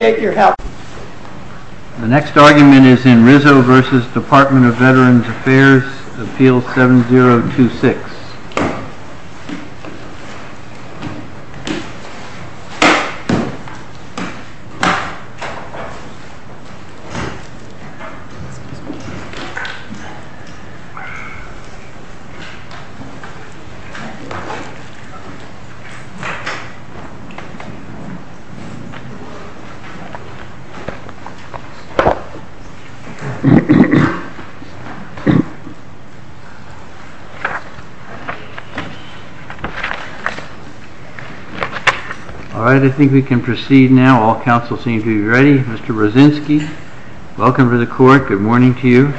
The next argument is in Rizzo v. Department of Veterans Affairs, Appeal 7026. All right. I think we can proceed now. All counsel seem to be ready. Mr. Brzezinski, welcome to the court. Good morning to you.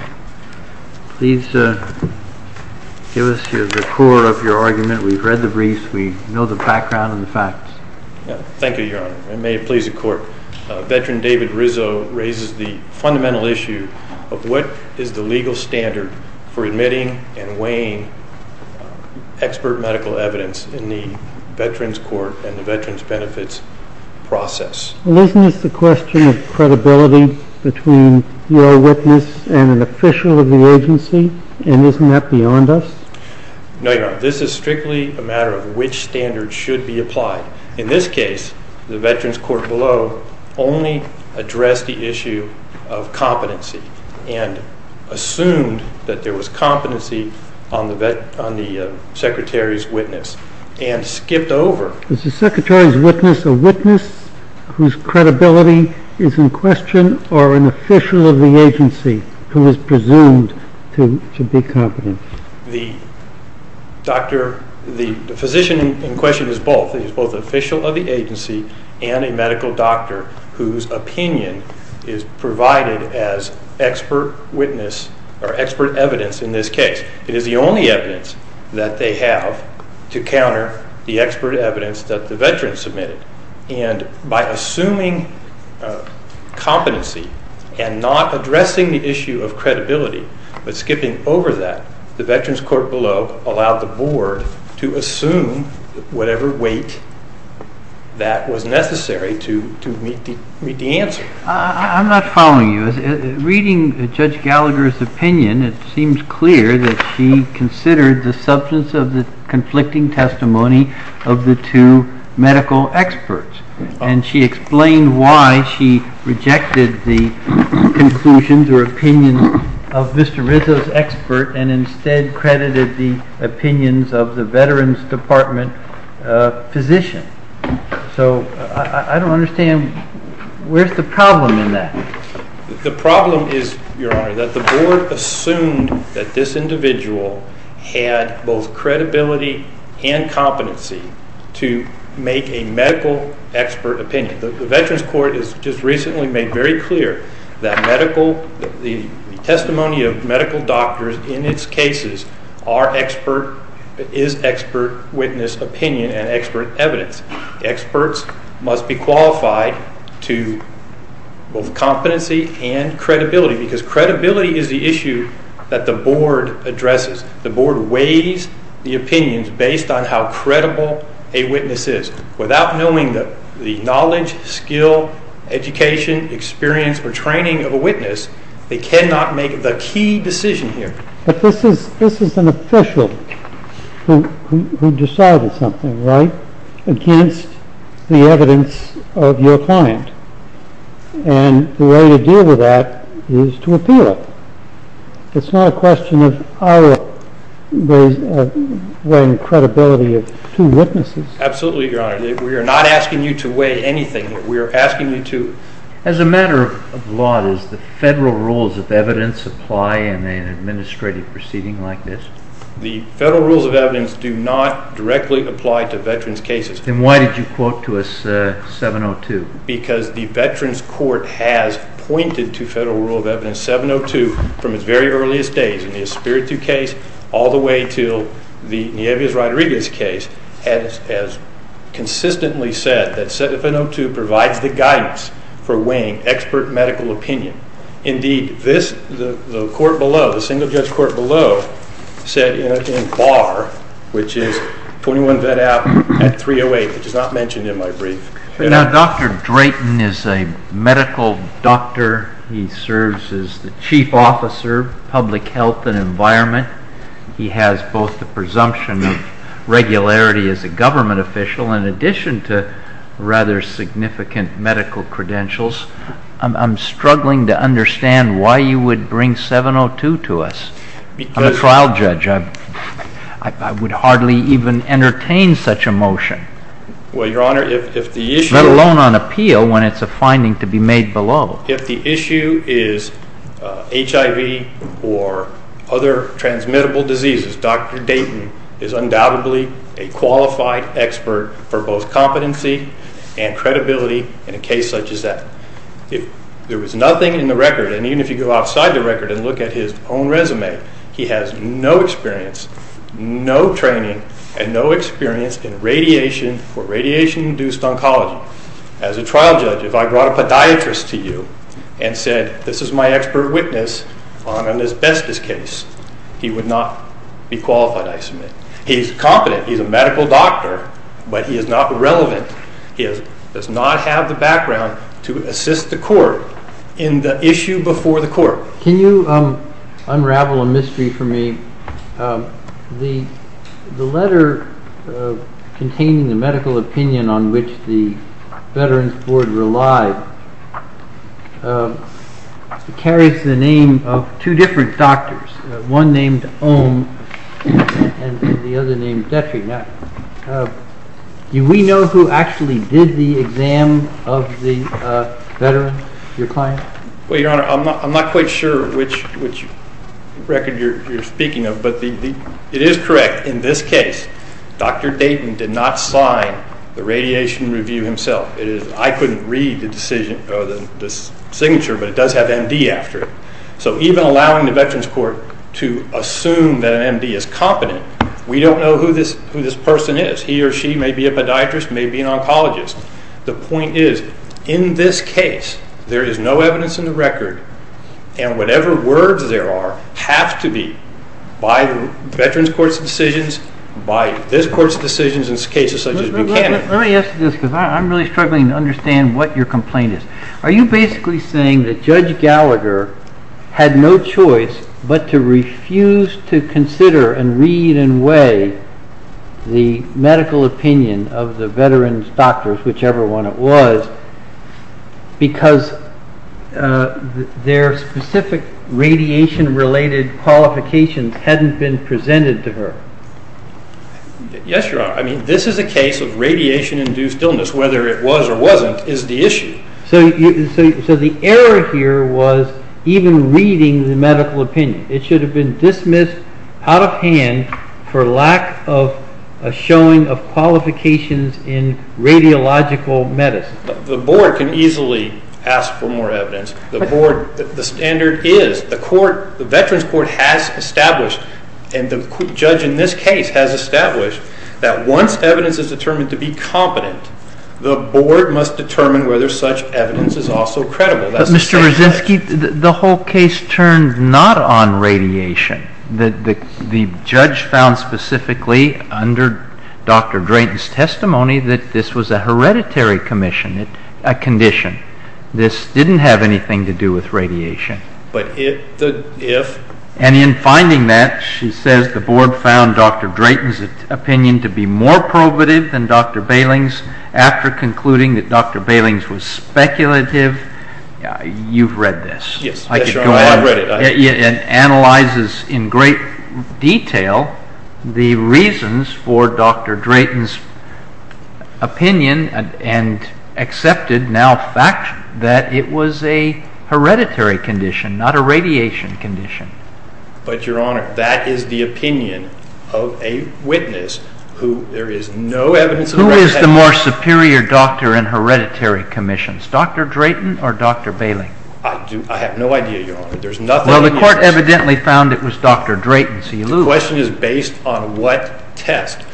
Please give us the core of your argument. We've read the briefs. We know the background and the facts. Thank you, Your Honor. And may it please the court, Veteran David Rizzo raises the fundamental issue of what is the legal standard for admitting and weighing expert medical evidence in the Veterans Court and the Veterans Benefits process. Well, isn't this the question of credibility between your witness and an official of the agency, and isn't that beyond us? No, Your Honor. This is strictly a matter of which standard should be applied. In this case, the Veterans Court below only addressed the issue of competency and assumed that there was competency on the secretary's witness and skipped over. Is the secretary's witness a witness whose credibility is in question or an official of the agency who is presumed to be competent? The physician in question is both. He's both an official of the agency and a medical doctor whose opinion is provided as expert witness or expert evidence in this case. It is the only evidence that they have to counter the expert evidence that the veteran submitted. And by assuming competency and not addressing the issue of credibility but skipping over that, the Veterans Court below allowed the board to assume whatever weight that was necessary to meet the answer. I'm not following you. Reading Judge Gallagher's opinion, it seems clear that she considered the substance of the conflicting testimony of the two medical experts, and she explained why she rejected the conclusions or opinions of Mr. Rizzo's expert and instead credited the opinions of the Veterans Department physician. So I don't understand. Where's the problem in that? The problem is, Your Honor, that the board assumed that this individual had both credibility and competency to make a medical expert opinion. The Veterans Court has just recently made very clear that the testimony of medical doctors in its cases is expert witness opinion and expert evidence. Experts must be qualified to both competency and credibility because credibility is the issue that the board addresses. The board weighs the opinions based on how experienced or training of a witness. They cannot make the key decision here. But this is an official who decided something, right, against the evidence of your client. And the way to deal with that is to appeal it. It's not a question of our weighing credibility of two witnesses. Absolutely, Your Honor. We are not asking you to weigh anything. We are asking you to... As a matter of law, does the federal rules of evidence apply in an administrative proceeding like this? The federal rules of evidence do not directly apply to veterans' cases. Then why did you quote to us 702? Because the Veterans Court has pointed to federal rule of evidence 702 from its very earliest days, in the Espiritu case all the way to the Nieves-Rodriguez case, has consistently said that 702 provides the guidance for weighing expert medical opinion. Indeed, the court below, the single-judge court below, said in bar, which is 21 Veddow at 308, which is not mentioned in my brief... Now, Dr. Drayton is a medical doctor. He serves as the chief officer of public health and environment. He has both the presumption of regularity as a government official in addition to rather significant medical credentials. I am struggling to understand why you would bring 702 to us. I am a trial judge. I would hardly even entertain such a motion, let alone on appeal, when it is a finding to be made below. If the issue is HIV or other transmittable diseases, Dr. Drayton is undoubtedly a qualified expert for both competency and credibility in a case such as that. If there was nothing in the record, and even if you go outside the record and look at his own resume, he has no experience, no training, and no experience in radiation or radiation-induced oncology. As a trial judge, if I brought a podiatrist to you and said, this is my expert witness on an asbestos case, he would not be qualified, I submit. He is competent. He is a medical doctor, but he is not relevant. He does not have the background to assist the court in the issue before the court. Can you unravel a mystery for me? The letter containing the medical opinion on which the other name is Detri. Do we know who actually did the exam of the veteran, your client? Well, Your Honor, I am not quite sure which record you are speaking of, but it is correct. In this case, Dr. Drayton did not sign the radiation review himself. I could not read the signature, but it does have MD after it. So even allowing the Veterans Court to assume that an MD is competent, we do not know who this person is. He or she may be a podiatrist, may be an oncologist. The point is, in this case, there is no evidence in the record, and whatever words there are have to be by the Veterans Court's decisions, by this Court's decisions in cases such as Buchanan. Let me ask you this, because I am really struggling to understand what your complaint is. Are you basically saying that Judge Gallagher had no choice but to refuse to consider and read and weigh the medical opinion of the veterans' doctors, whichever one it was, because their specific radiation-related qualifications had not been presented to her? Yes, Your Honor. I mean, this is a case of radiation-induced illness. Whether it was or wasn't is the issue. So the error here was even reading the medical opinion. It should have been dismissed out of hand for lack of a showing of qualifications in radiological medicine. The Board can easily ask for more evidence. The Board, the standard is, the Veterans Court has established, and the judge in this case has established, that once evidence is determined to be competent, the Board must determine whether such evidence is also credible. But, Mr. Krasinski, the whole case turned not on radiation. The judge found specifically under Dr. Drayton's testimony that this was a hereditary commission, a condition. This didn't have anything to do with radiation. But if? And in finding that, she says the Board found Dr. Drayton's opinion to be more probative than Dr. Bailing's, after concluding that Dr. Bailing's was speculative, you've read this. Yes, Your Honor, I've read it. It analyzes in great detail the reasons for Dr. Drayton's opinion and accepted now fact that it was a hereditary condition, not a radiation condition. But, Your Honor, that is the opinion of a witness who there is no evidence of radiation. Who is the more superior doctor in hereditary commissions, Dr. Drayton or Dr. Bailing? I have no idea, Your Honor. Well, the court evidently found it was Dr. Drayton, so you lose. The question is based on what test.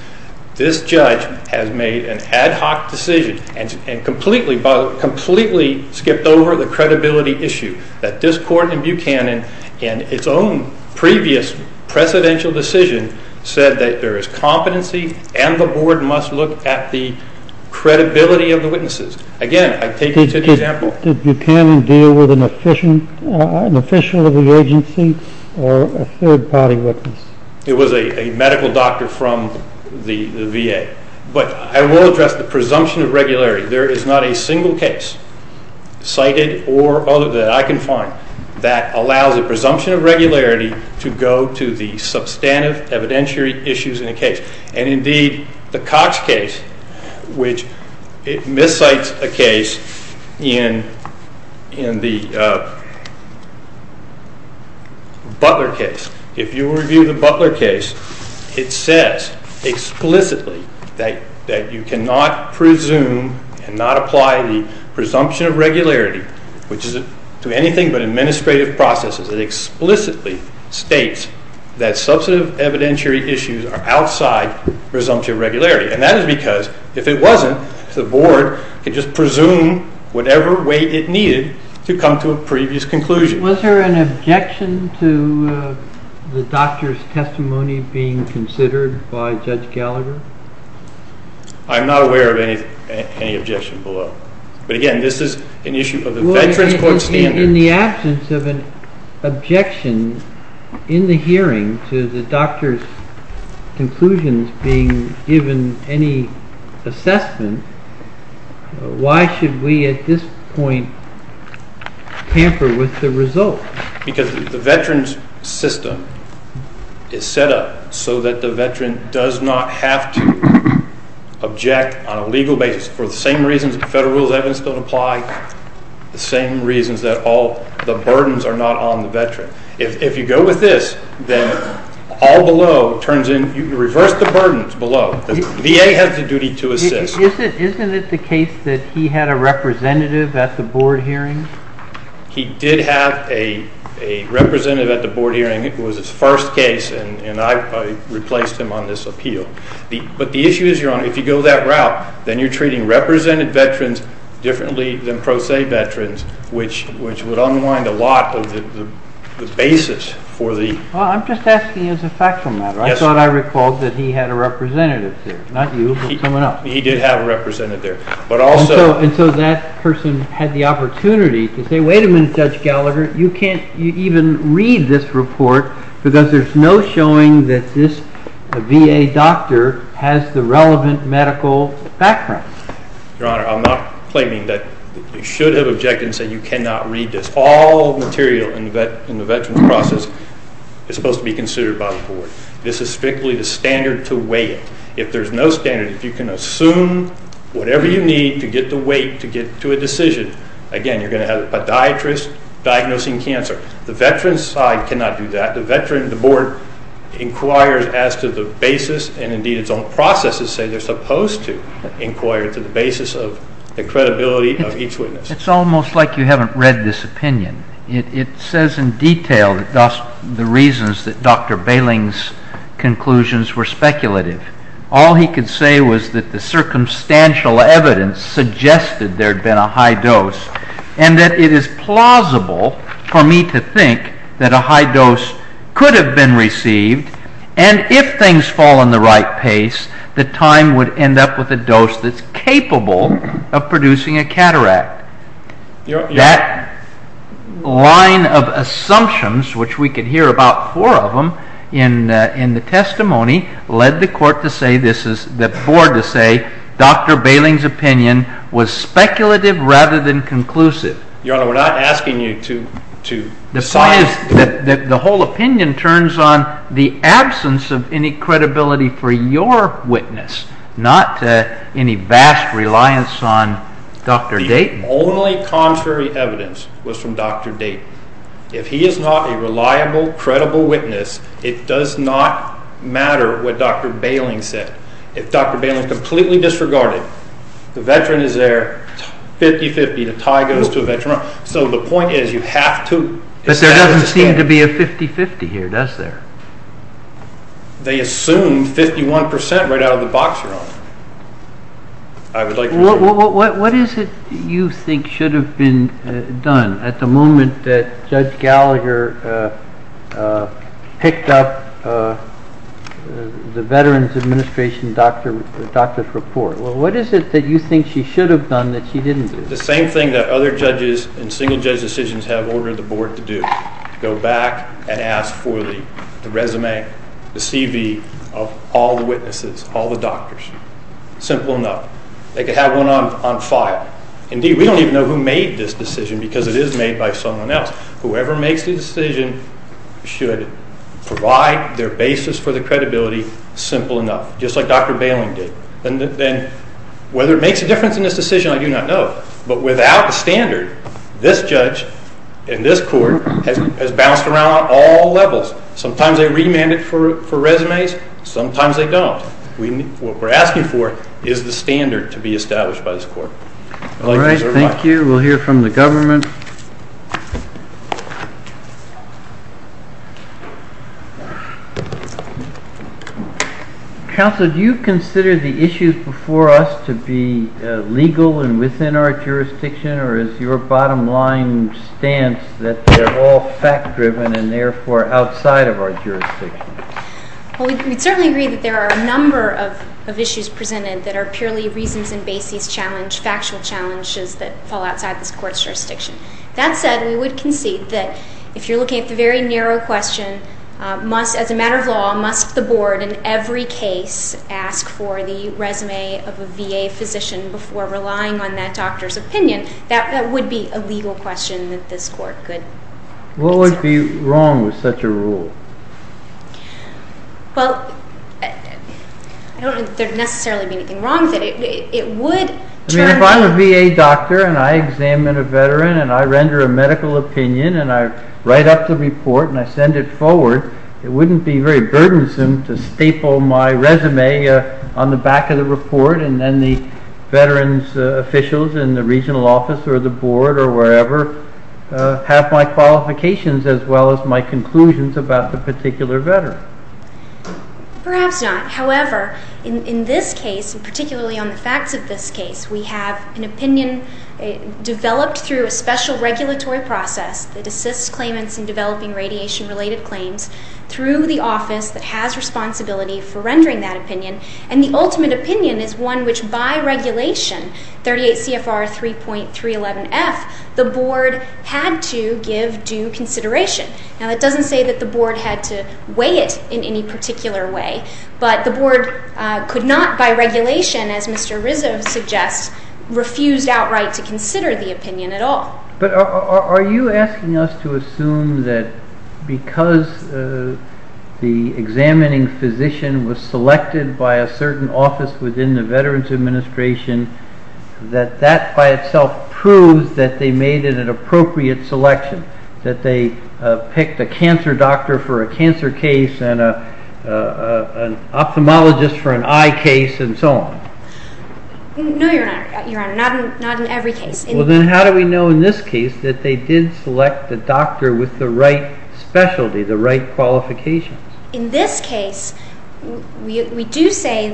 This judge has made an ad hoc decision and completely skipped over the credibility issue. That this court in Buchanan, in its own previous precedential decision, said that there is competency and the Board must look at the credibility of the witnesses. Again, I take you to the example. Did Buchanan deal with an official of the agency or a third-party witness? It was a medical doctor from the VA. But I will address the presumption of regularity. There is not a single case cited or other that I can find that allows a presumption of regularity to go to the substantive evidentiary issues in a case. And indeed, the Cox case, which it miscites a case in the Butler case. If you review the Butler case, it says explicitly that you cannot presume and not apply the presumption of regularity, which is to anything but administrative processes. It explicitly states that substantive evidentiary issues are outside presumption of regularity. And that is because if it wasn't, the Board could just presume whatever way it needed to come to a previous conclusion. Was there an objection to the doctor's testimony being considered by Judge Gallagher? I'm not aware of any objection below. But again, this is an issue of the fed transport standards. In the absence of an objection in the hearing to the doctor's conclusions being given any assessment, why should we at this point tamper with the result? Because the veteran's system is set up so that the veteran does not have to object on a legal basis for the same reasons the federal rules of evidence don't apply, the same reasons that all the burdens are not on the veteran. If you go with this, then all below turns in, you reverse the burdens below. VA has the duty to assist. Isn't it the case that he had a representative at the Board hearing? He did have a representative at the Board hearing. It was his first case, and I replaced him on this appeal. But the issue is, Your Honor, if you go that route, then you're treating represented veterans differently than pro se veterans, which would unwind a lot of the basis for the... Well, I'm just asking as a factual matter. I thought I recalled that he had a representative there. Not you, but someone else. He did have a representative there, but also... And so that person had the opportunity to say, wait a minute, Judge Gallagher, you can't even read this report because there's no showing that this VA doctor has the relevant medical background. Your Honor, I'm not claiming that you should have objected and said you cannot read this. This is strictly the standard to weigh it. If there's no standard, if you can assume whatever you need to get the weight to get to a decision, again, you're going to have a podiatrist diagnosing cancer. The veteran's side cannot do that. The veteran, the Board inquires as to the basis, and indeed its own processes say they're supposed to inquire to the basis of the credibility of each witness. It's almost like you haven't read this opinion. It says in detail, thus, the reasons that Dr. Bailing's conclusions were speculative. All he could say was that the circumstantial evidence suggested there had been a high dose and that it is plausible for me to think that a high dose could have been received, and if things fall in the right pace, that time would end up with a dose that's capable of producing a cataract. That line of assumptions, which we could hear about four of them in the testimony, led the Court to say, the Board to say, Dr. Bailing's opinion was speculative rather than conclusive. Your Honor, we're not asking you to decide. The whole opinion turns on the absence of any credibility for your witness, not any vast reliance on Dr. Dayton. The only contrary evidence was from Dr. Dayton. If he is not a reliable, credible witness, it does not matter what Dr. Bailing said. If Dr. Bailing is completely disregarded, the veteran is there, 50-50, the tie goes to a veteran. So the point is, you have to establish a standard. But there doesn't seem to be a 50-50 here, does there? They assume 51% right out of the box, Your Honor. I would like to... What is it you think should have been done at the moment that Judge Gallagher picked up the Veterans Administration doctor's report? What is it that you think she should have done that she didn't do? The same thing that other judges and single-judge decisions have ordered the Board to do, go back and ask for the resume, the CV of all the witnesses, all the doctors. Simple enough. They could have one on file. Indeed, we don't even know who made this decision because it is made by someone else. Whoever makes the decision should provide their basis for the credibility simple enough, just like Dr. Bailing did. And then whether it makes a difference in this decision, I do not know. But without the standard, this judge and this court has bounced around on all levels. Sometimes they remand it for resumes, sometimes they don't. What we're asking for is the standard to be established by this court. All right, thank you. We'll hear from the government. Counsel, do you consider the issues before us to be legal and within our jurisdiction, or is your bottom line stance that they're all fact-driven and therefore outside of our jurisdiction? Well, we'd certainly agree that there are a number of issues presented that are purely reasons and basis challenge, factual challenges that fall outside this court's jurisdiction. That said, we would concede that if you're looking at the very narrow question, as a matter of law, must the board in every case ask for the resume of a VA physician before relying on that doctor's opinion? That would be a legal question that this court could ask. What would be wrong with such a rule? Well, I don't think there'd necessarily be anything wrong with it. It would turn- I mean, if I'm a VA doctor and I examine a veteran and I render a medical opinion and I write up the report and I send it forward, it wouldn't be very burdensome to staple my resume on the back of the report and then the veterans officials in the regional office or the board or wherever have my qualifications as well as my conclusions about the particular veteran. Perhaps not. However, in this case, and particularly on the facts of this case, we have an opinion developed through a special regulatory process that assists claimants in developing radiation related claims through the office that has responsibility for rendering that opinion. And the ultimate opinion is one which by regulation, 38 CFR 3.311F, the board had to give due consideration. Now, that doesn't say that the board had to weigh it in any particular way, but the board could not, by regulation, as Mr. Rizzo suggests, refused outright to consider the opinion at all. But are you asking us to assume that because the examining physician was selected by a certain office within the Veterans Administration that that by itself proves that they made it an appropriate selection, that they picked a cancer doctor for a cancer case and an ophthalmologist for an eye case and so on? No, Your Honor. Your Honor, not in every case. Well, then how do we know in this case that they did select the doctor with the right specialty, the right qualifications? In this case, we do say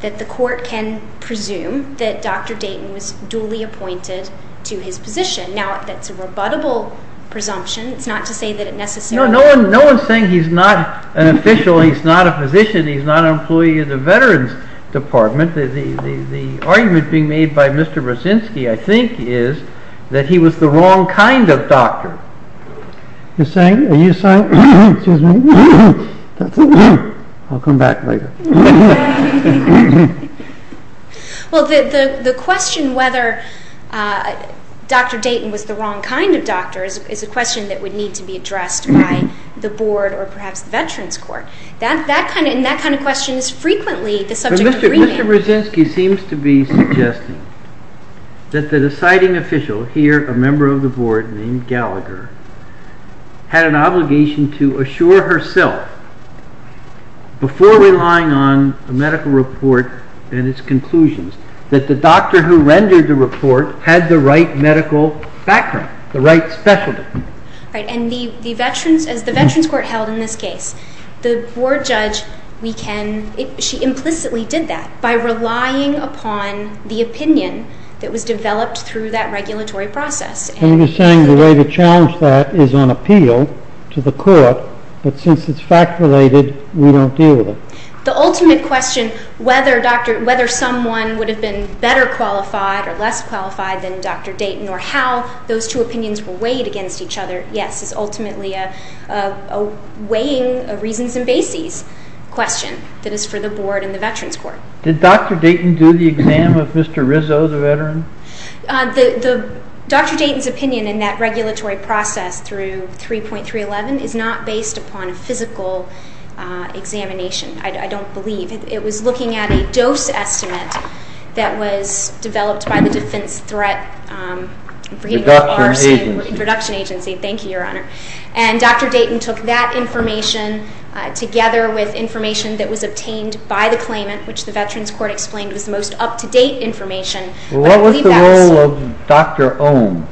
that the court can presume that Dr. Dayton was duly appointed to his position. Now, that's a rebuttable presumption. It's not to say that it necessarily... No, no one's saying he's not an official, he's not a physician, he's not an employee of the Veterans Department. The argument being made by Mr. Rosinsky, I think, is that he was the wrong kind of doctor. You're saying? Are you saying? Excuse me. I'll come back later. Well, the question whether Dr. Dayton was the wrong kind of doctor is a question that would need to be addressed by the Board or perhaps the Veterans Court. And that kind of question is frequently the subject of reading. Mr. Rosinsky seems to be suggesting that the deciding official here, a member of the Board named Gallagher, had an obligation to assure herself before relying on a medical report and its conclusions that the doctor who rendered the report had the right medical background, the right specialty. Right, and as the Veterans Court held in this case, the Board judge, she implicitly did that by relying upon the opinion that was developed through that regulatory process. And you're saying the way to challenge that is on appeal to the court, but since it's fact-related, we don't deal with it. The ultimate question, whether someone would have been better qualified or less qualified than Dr. Dayton or how those two opinions were weighed against each other, yes, is ultimately a weighing of reasons and bases question that is for the Board and the Veterans Court. Did Dr. Dayton do the exam if Mr. Rizzo is a veteran? The Dr. Dayton's opinion in that regulatory process through 3.311 is not based upon a physical examination, I don't believe. It was looking at a dose estimate that was developed by the Defense Threat Reduction Agency. Thank you, Your Honor. And Dr. Dayton took that information together with information that was obtained by the claimant, which the Veterans Court explained was the most up-to-date information. What was the role of Dr. Ohm?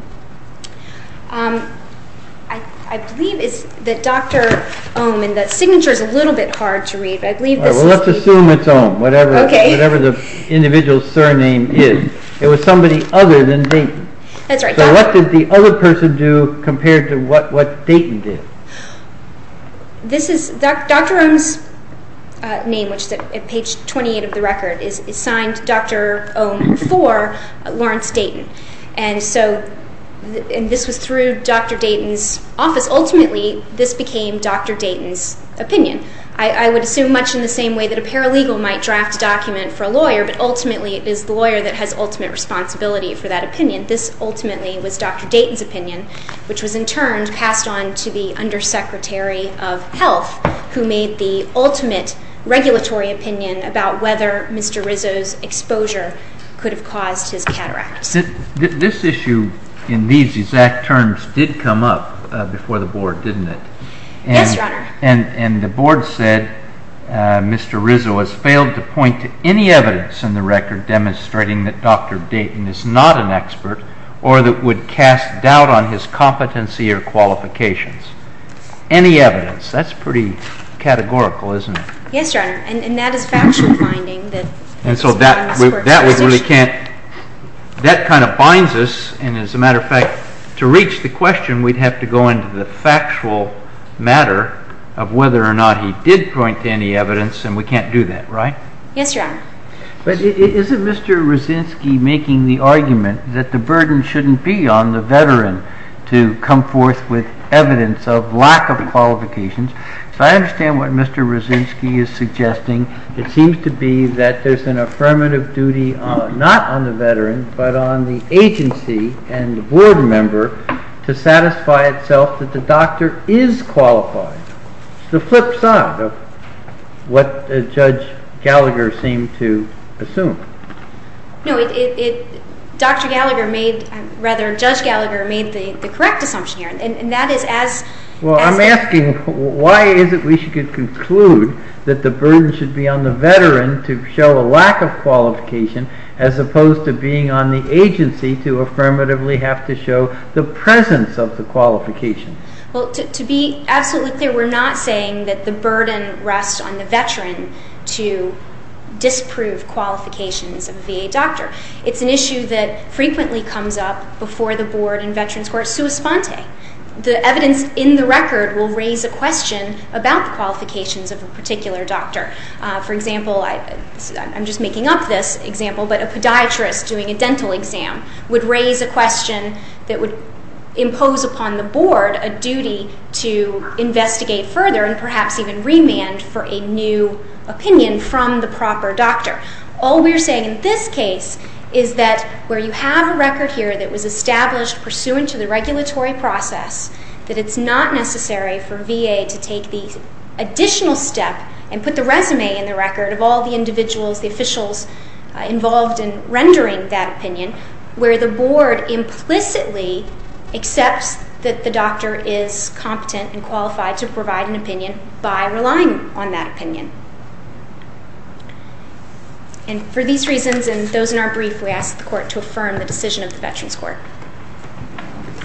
I believe it's the Dr. Ohm, and the signature is a little bit hard to read, but I believe this is the... Well, let's assume it's Ohm, whatever the individual's surname is. It was somebody other than Dayton. That's right. So what did the other person do compared to what Dayton did? Dr. Ohm's name, which is at page 28 of the record, is signed Dr. Ohm for Lawrence Dayton. And this was through Dr. Dayton's office. Ultimately, this became Dr. Dayton's opinion. I would assume much in the same way that a paralegal might draft a document for a lawyer, but ultimately it is the lawyer that has ultimate responsibility for that opinion. This ultimately was Dr. Dayton's opinion, which was in turn passed on to the Undersecretary of Health, who made the ultimate regulatory opinion about whether Mr. Rizzo's exposure could have caused his cataract. This issue in these exact terms did come up before the Board, didn't it? Yes, Your Honor. And the Board said Mr. Rizzo has failed to point to any evidence in the record demonstrating that Dr. Dayton is not an expert or that would cast doubt on his competency or qualifications. Any evidence? That's pretty categorical, isn't it? Yes, Your Honor. And that is factual finding. And so that kind of binds us. And as a matter of fact, to reach the question, we'd have to go into the factual matter of whether or not he did point to any evidence. And we can't do that, right? Yes, Your Honor. But isn't Mr. Rizzinski making the argument that the burden shouldn't be on the veteran to come forth with evidence of lack of qualifications? So I understand what Mr. Rizzinski is suggesting. It seems to be that there's an affirmative duty not on the veteran, but on the agency and the Board member to satisfy itself that the doctor is qualified. The flip side of what Judge Gallagher seemed to assume. No, Dr. Gallagher made, rather, Judge Gallagher made the correct assumption here. And that is as- Well, I'm asking why is it we should conclude that the burden should be on the veteran to show a lack of qualification as opposed to being on the agency to affirmatively have to show the presence of the qualification? Well, to be absolutely clear, we're not saying that the burden rests on the veteran to disprove qualifications of a VA doctor. It's an issue that frequently comes up before the Board and Veterans Court sua sponte. The evidence in the record will raise a question about the qualifications of a particular doctor. For example, I'm just making up this example, but a podiatrist doing a dental exam would raise a question that would impose upon the Board a duty to investigate further and perhaps even remand for a new opinion from the proper doctor. All we're saying in this case is that where you have a record here that was established pursuant to the regulatory process, that it's not necessary for VA to take the additional step and put the resume in the record of all the individuals, the officials involved in the process. The Board implicitly accepts that the doctor is competent and qualified to provide an opinion by relying on that opinion. And for these reasons and those in our brief, we ask the Court to affirm the decision of the Veterans Court.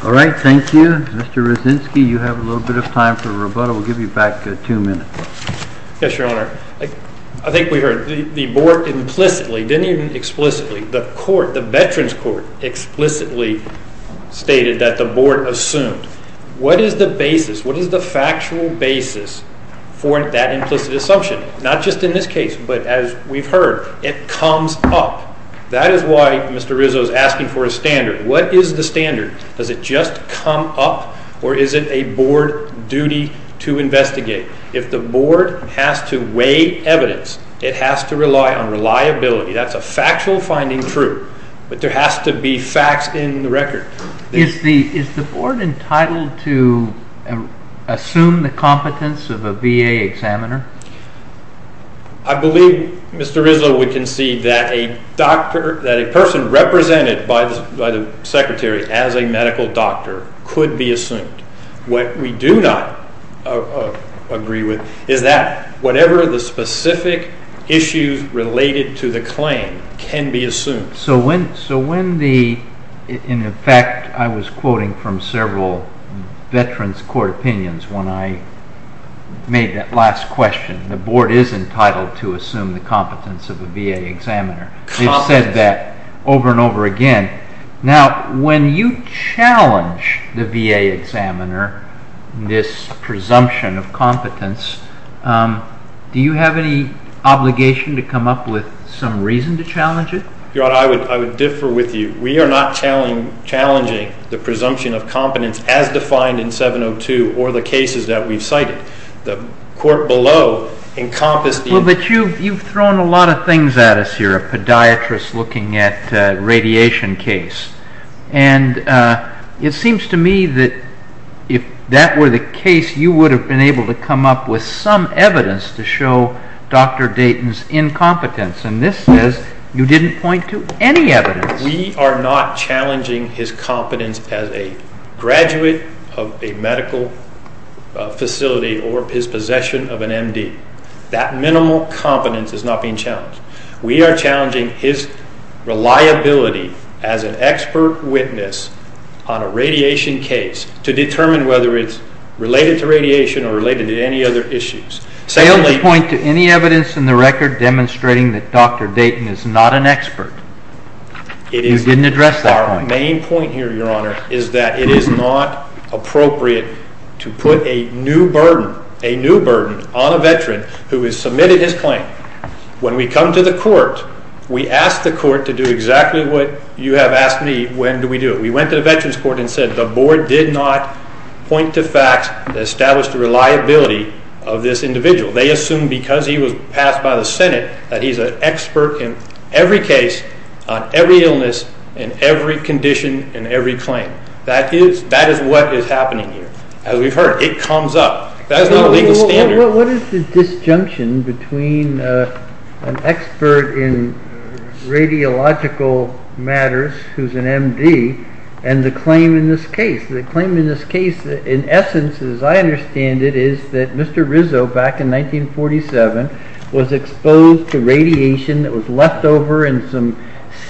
All right. Thank you. Mr. Rosensky, you have a little bit of time for rebuttal. We'll give you back two minutes. Yes, Your Honor. I think we heard the Board implicitly, didn't even explicitly, the Court, the Veterans Court explicitly stated that the Board assumed. What is the basis? What is the factual basis for that implicit assumption? Not just in this case, but as we've heard, it comes up. That is why Mr. Rizzo is asking for a standard. What is the standard? Does it just come up or is it a Board duty to investigate? If the Board has to weigh evidence, it has to rely on reliability. That's a factual finding true, but there has to be facts in the record. Is the Board entitled to assume the competence of a VA examiner? I believe Mr. Rizzo would concede that a person represented by the Secretary as a medical doctor could be assumed. What we do not agree with is that whatever the specific issues related to the claim can be assumed. So when the, in effect, I was quoting from several Veterans Court opinions when I made that last question, the Board is entitled to assume the competence of a VA examiner. They've said that over and over again. Now, when you challenge the VA examiner, this presumption of competence, do you have any obligation to come up with some reason to challenge it? Your Honor, I would differ with you. We are not challenging the presumption of competence as defined in 702 or the cases that we've cited. The court below encompassed the- Well, but you've thrown a lot of things at us here. Podiatrists looking at radiation case. And it seems to me that if that were the case, you would have been able to come up with some evidence to show Dr. Dayton's incompetence. And this says you didn't point to any evidence. We are not challenging his competence as a graduate of a medical facility or his possession That minimal competence is not being challenged. We are challenging his reliability as an expert witness on a radiation case to determine whether it's related to radiation or related to any other issues. Secondly- You don't point to any evidence in the record demonstrating that Dr. Dayton is not an expert. It is- You didn't address that point. Our main point here, Your Honor, is that it is not appropriate to put a new burden, a new burden on a veteran who has submitted his claim. When we come to the court, we ask the court to do exactly what you have asked me. When do we do it? We went to the veterans court and said the board did not point to facts that establish the reliability of this individual. They assume because he was passed by the Senate that he's an expert in every case, on every illness, in every condition, in every claim. That is what is happening here. As we've heard, it comes up. That is not a legal standard. What is the disjunction between an expert in radiological matters who's an MD and the claim in this case? The claim in this case, in essence, as I understand it, is that Mr. Rizzo, back in 1947, was exposed to radiation that was left over in some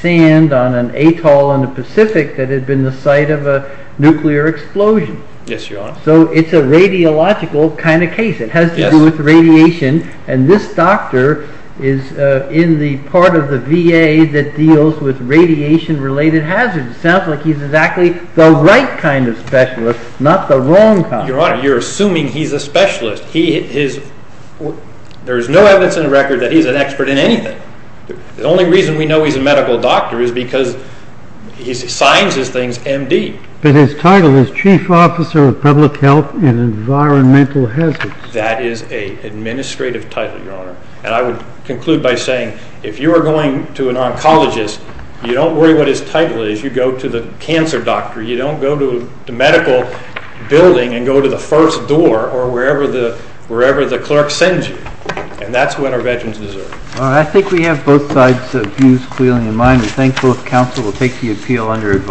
sand on an atoll in the Pacific that had been the site of a nuclear explosion. Yes, Your Honor. So it's a radiological kind of case. It has to do with radiation. And this doctor is in the part of the VA that deals with radiation-related hazards. It sounds like he's exactly the right kind of specialist, not the wrong kind. Your Honor, you're assuming he's a specialist. There is no evidence in the record that he's an expert in anything. The only reason we know he's a medical doctor is because he signs his things MD. But his title is Chief Officer of Public Health and Environmental Hazards. That is an administrative title, Your Honor. And I would conclude by saying, if you are going to an oncologist, you don't worry what his title is. You go to the cancer doctor. You don't go to the medical building and go to the first door or wherever the clerk sends you. And that's what our veterans deserve. All right. I think we have both sides of views clearly in mind. We're thankful if counsel will take the appeal under advice.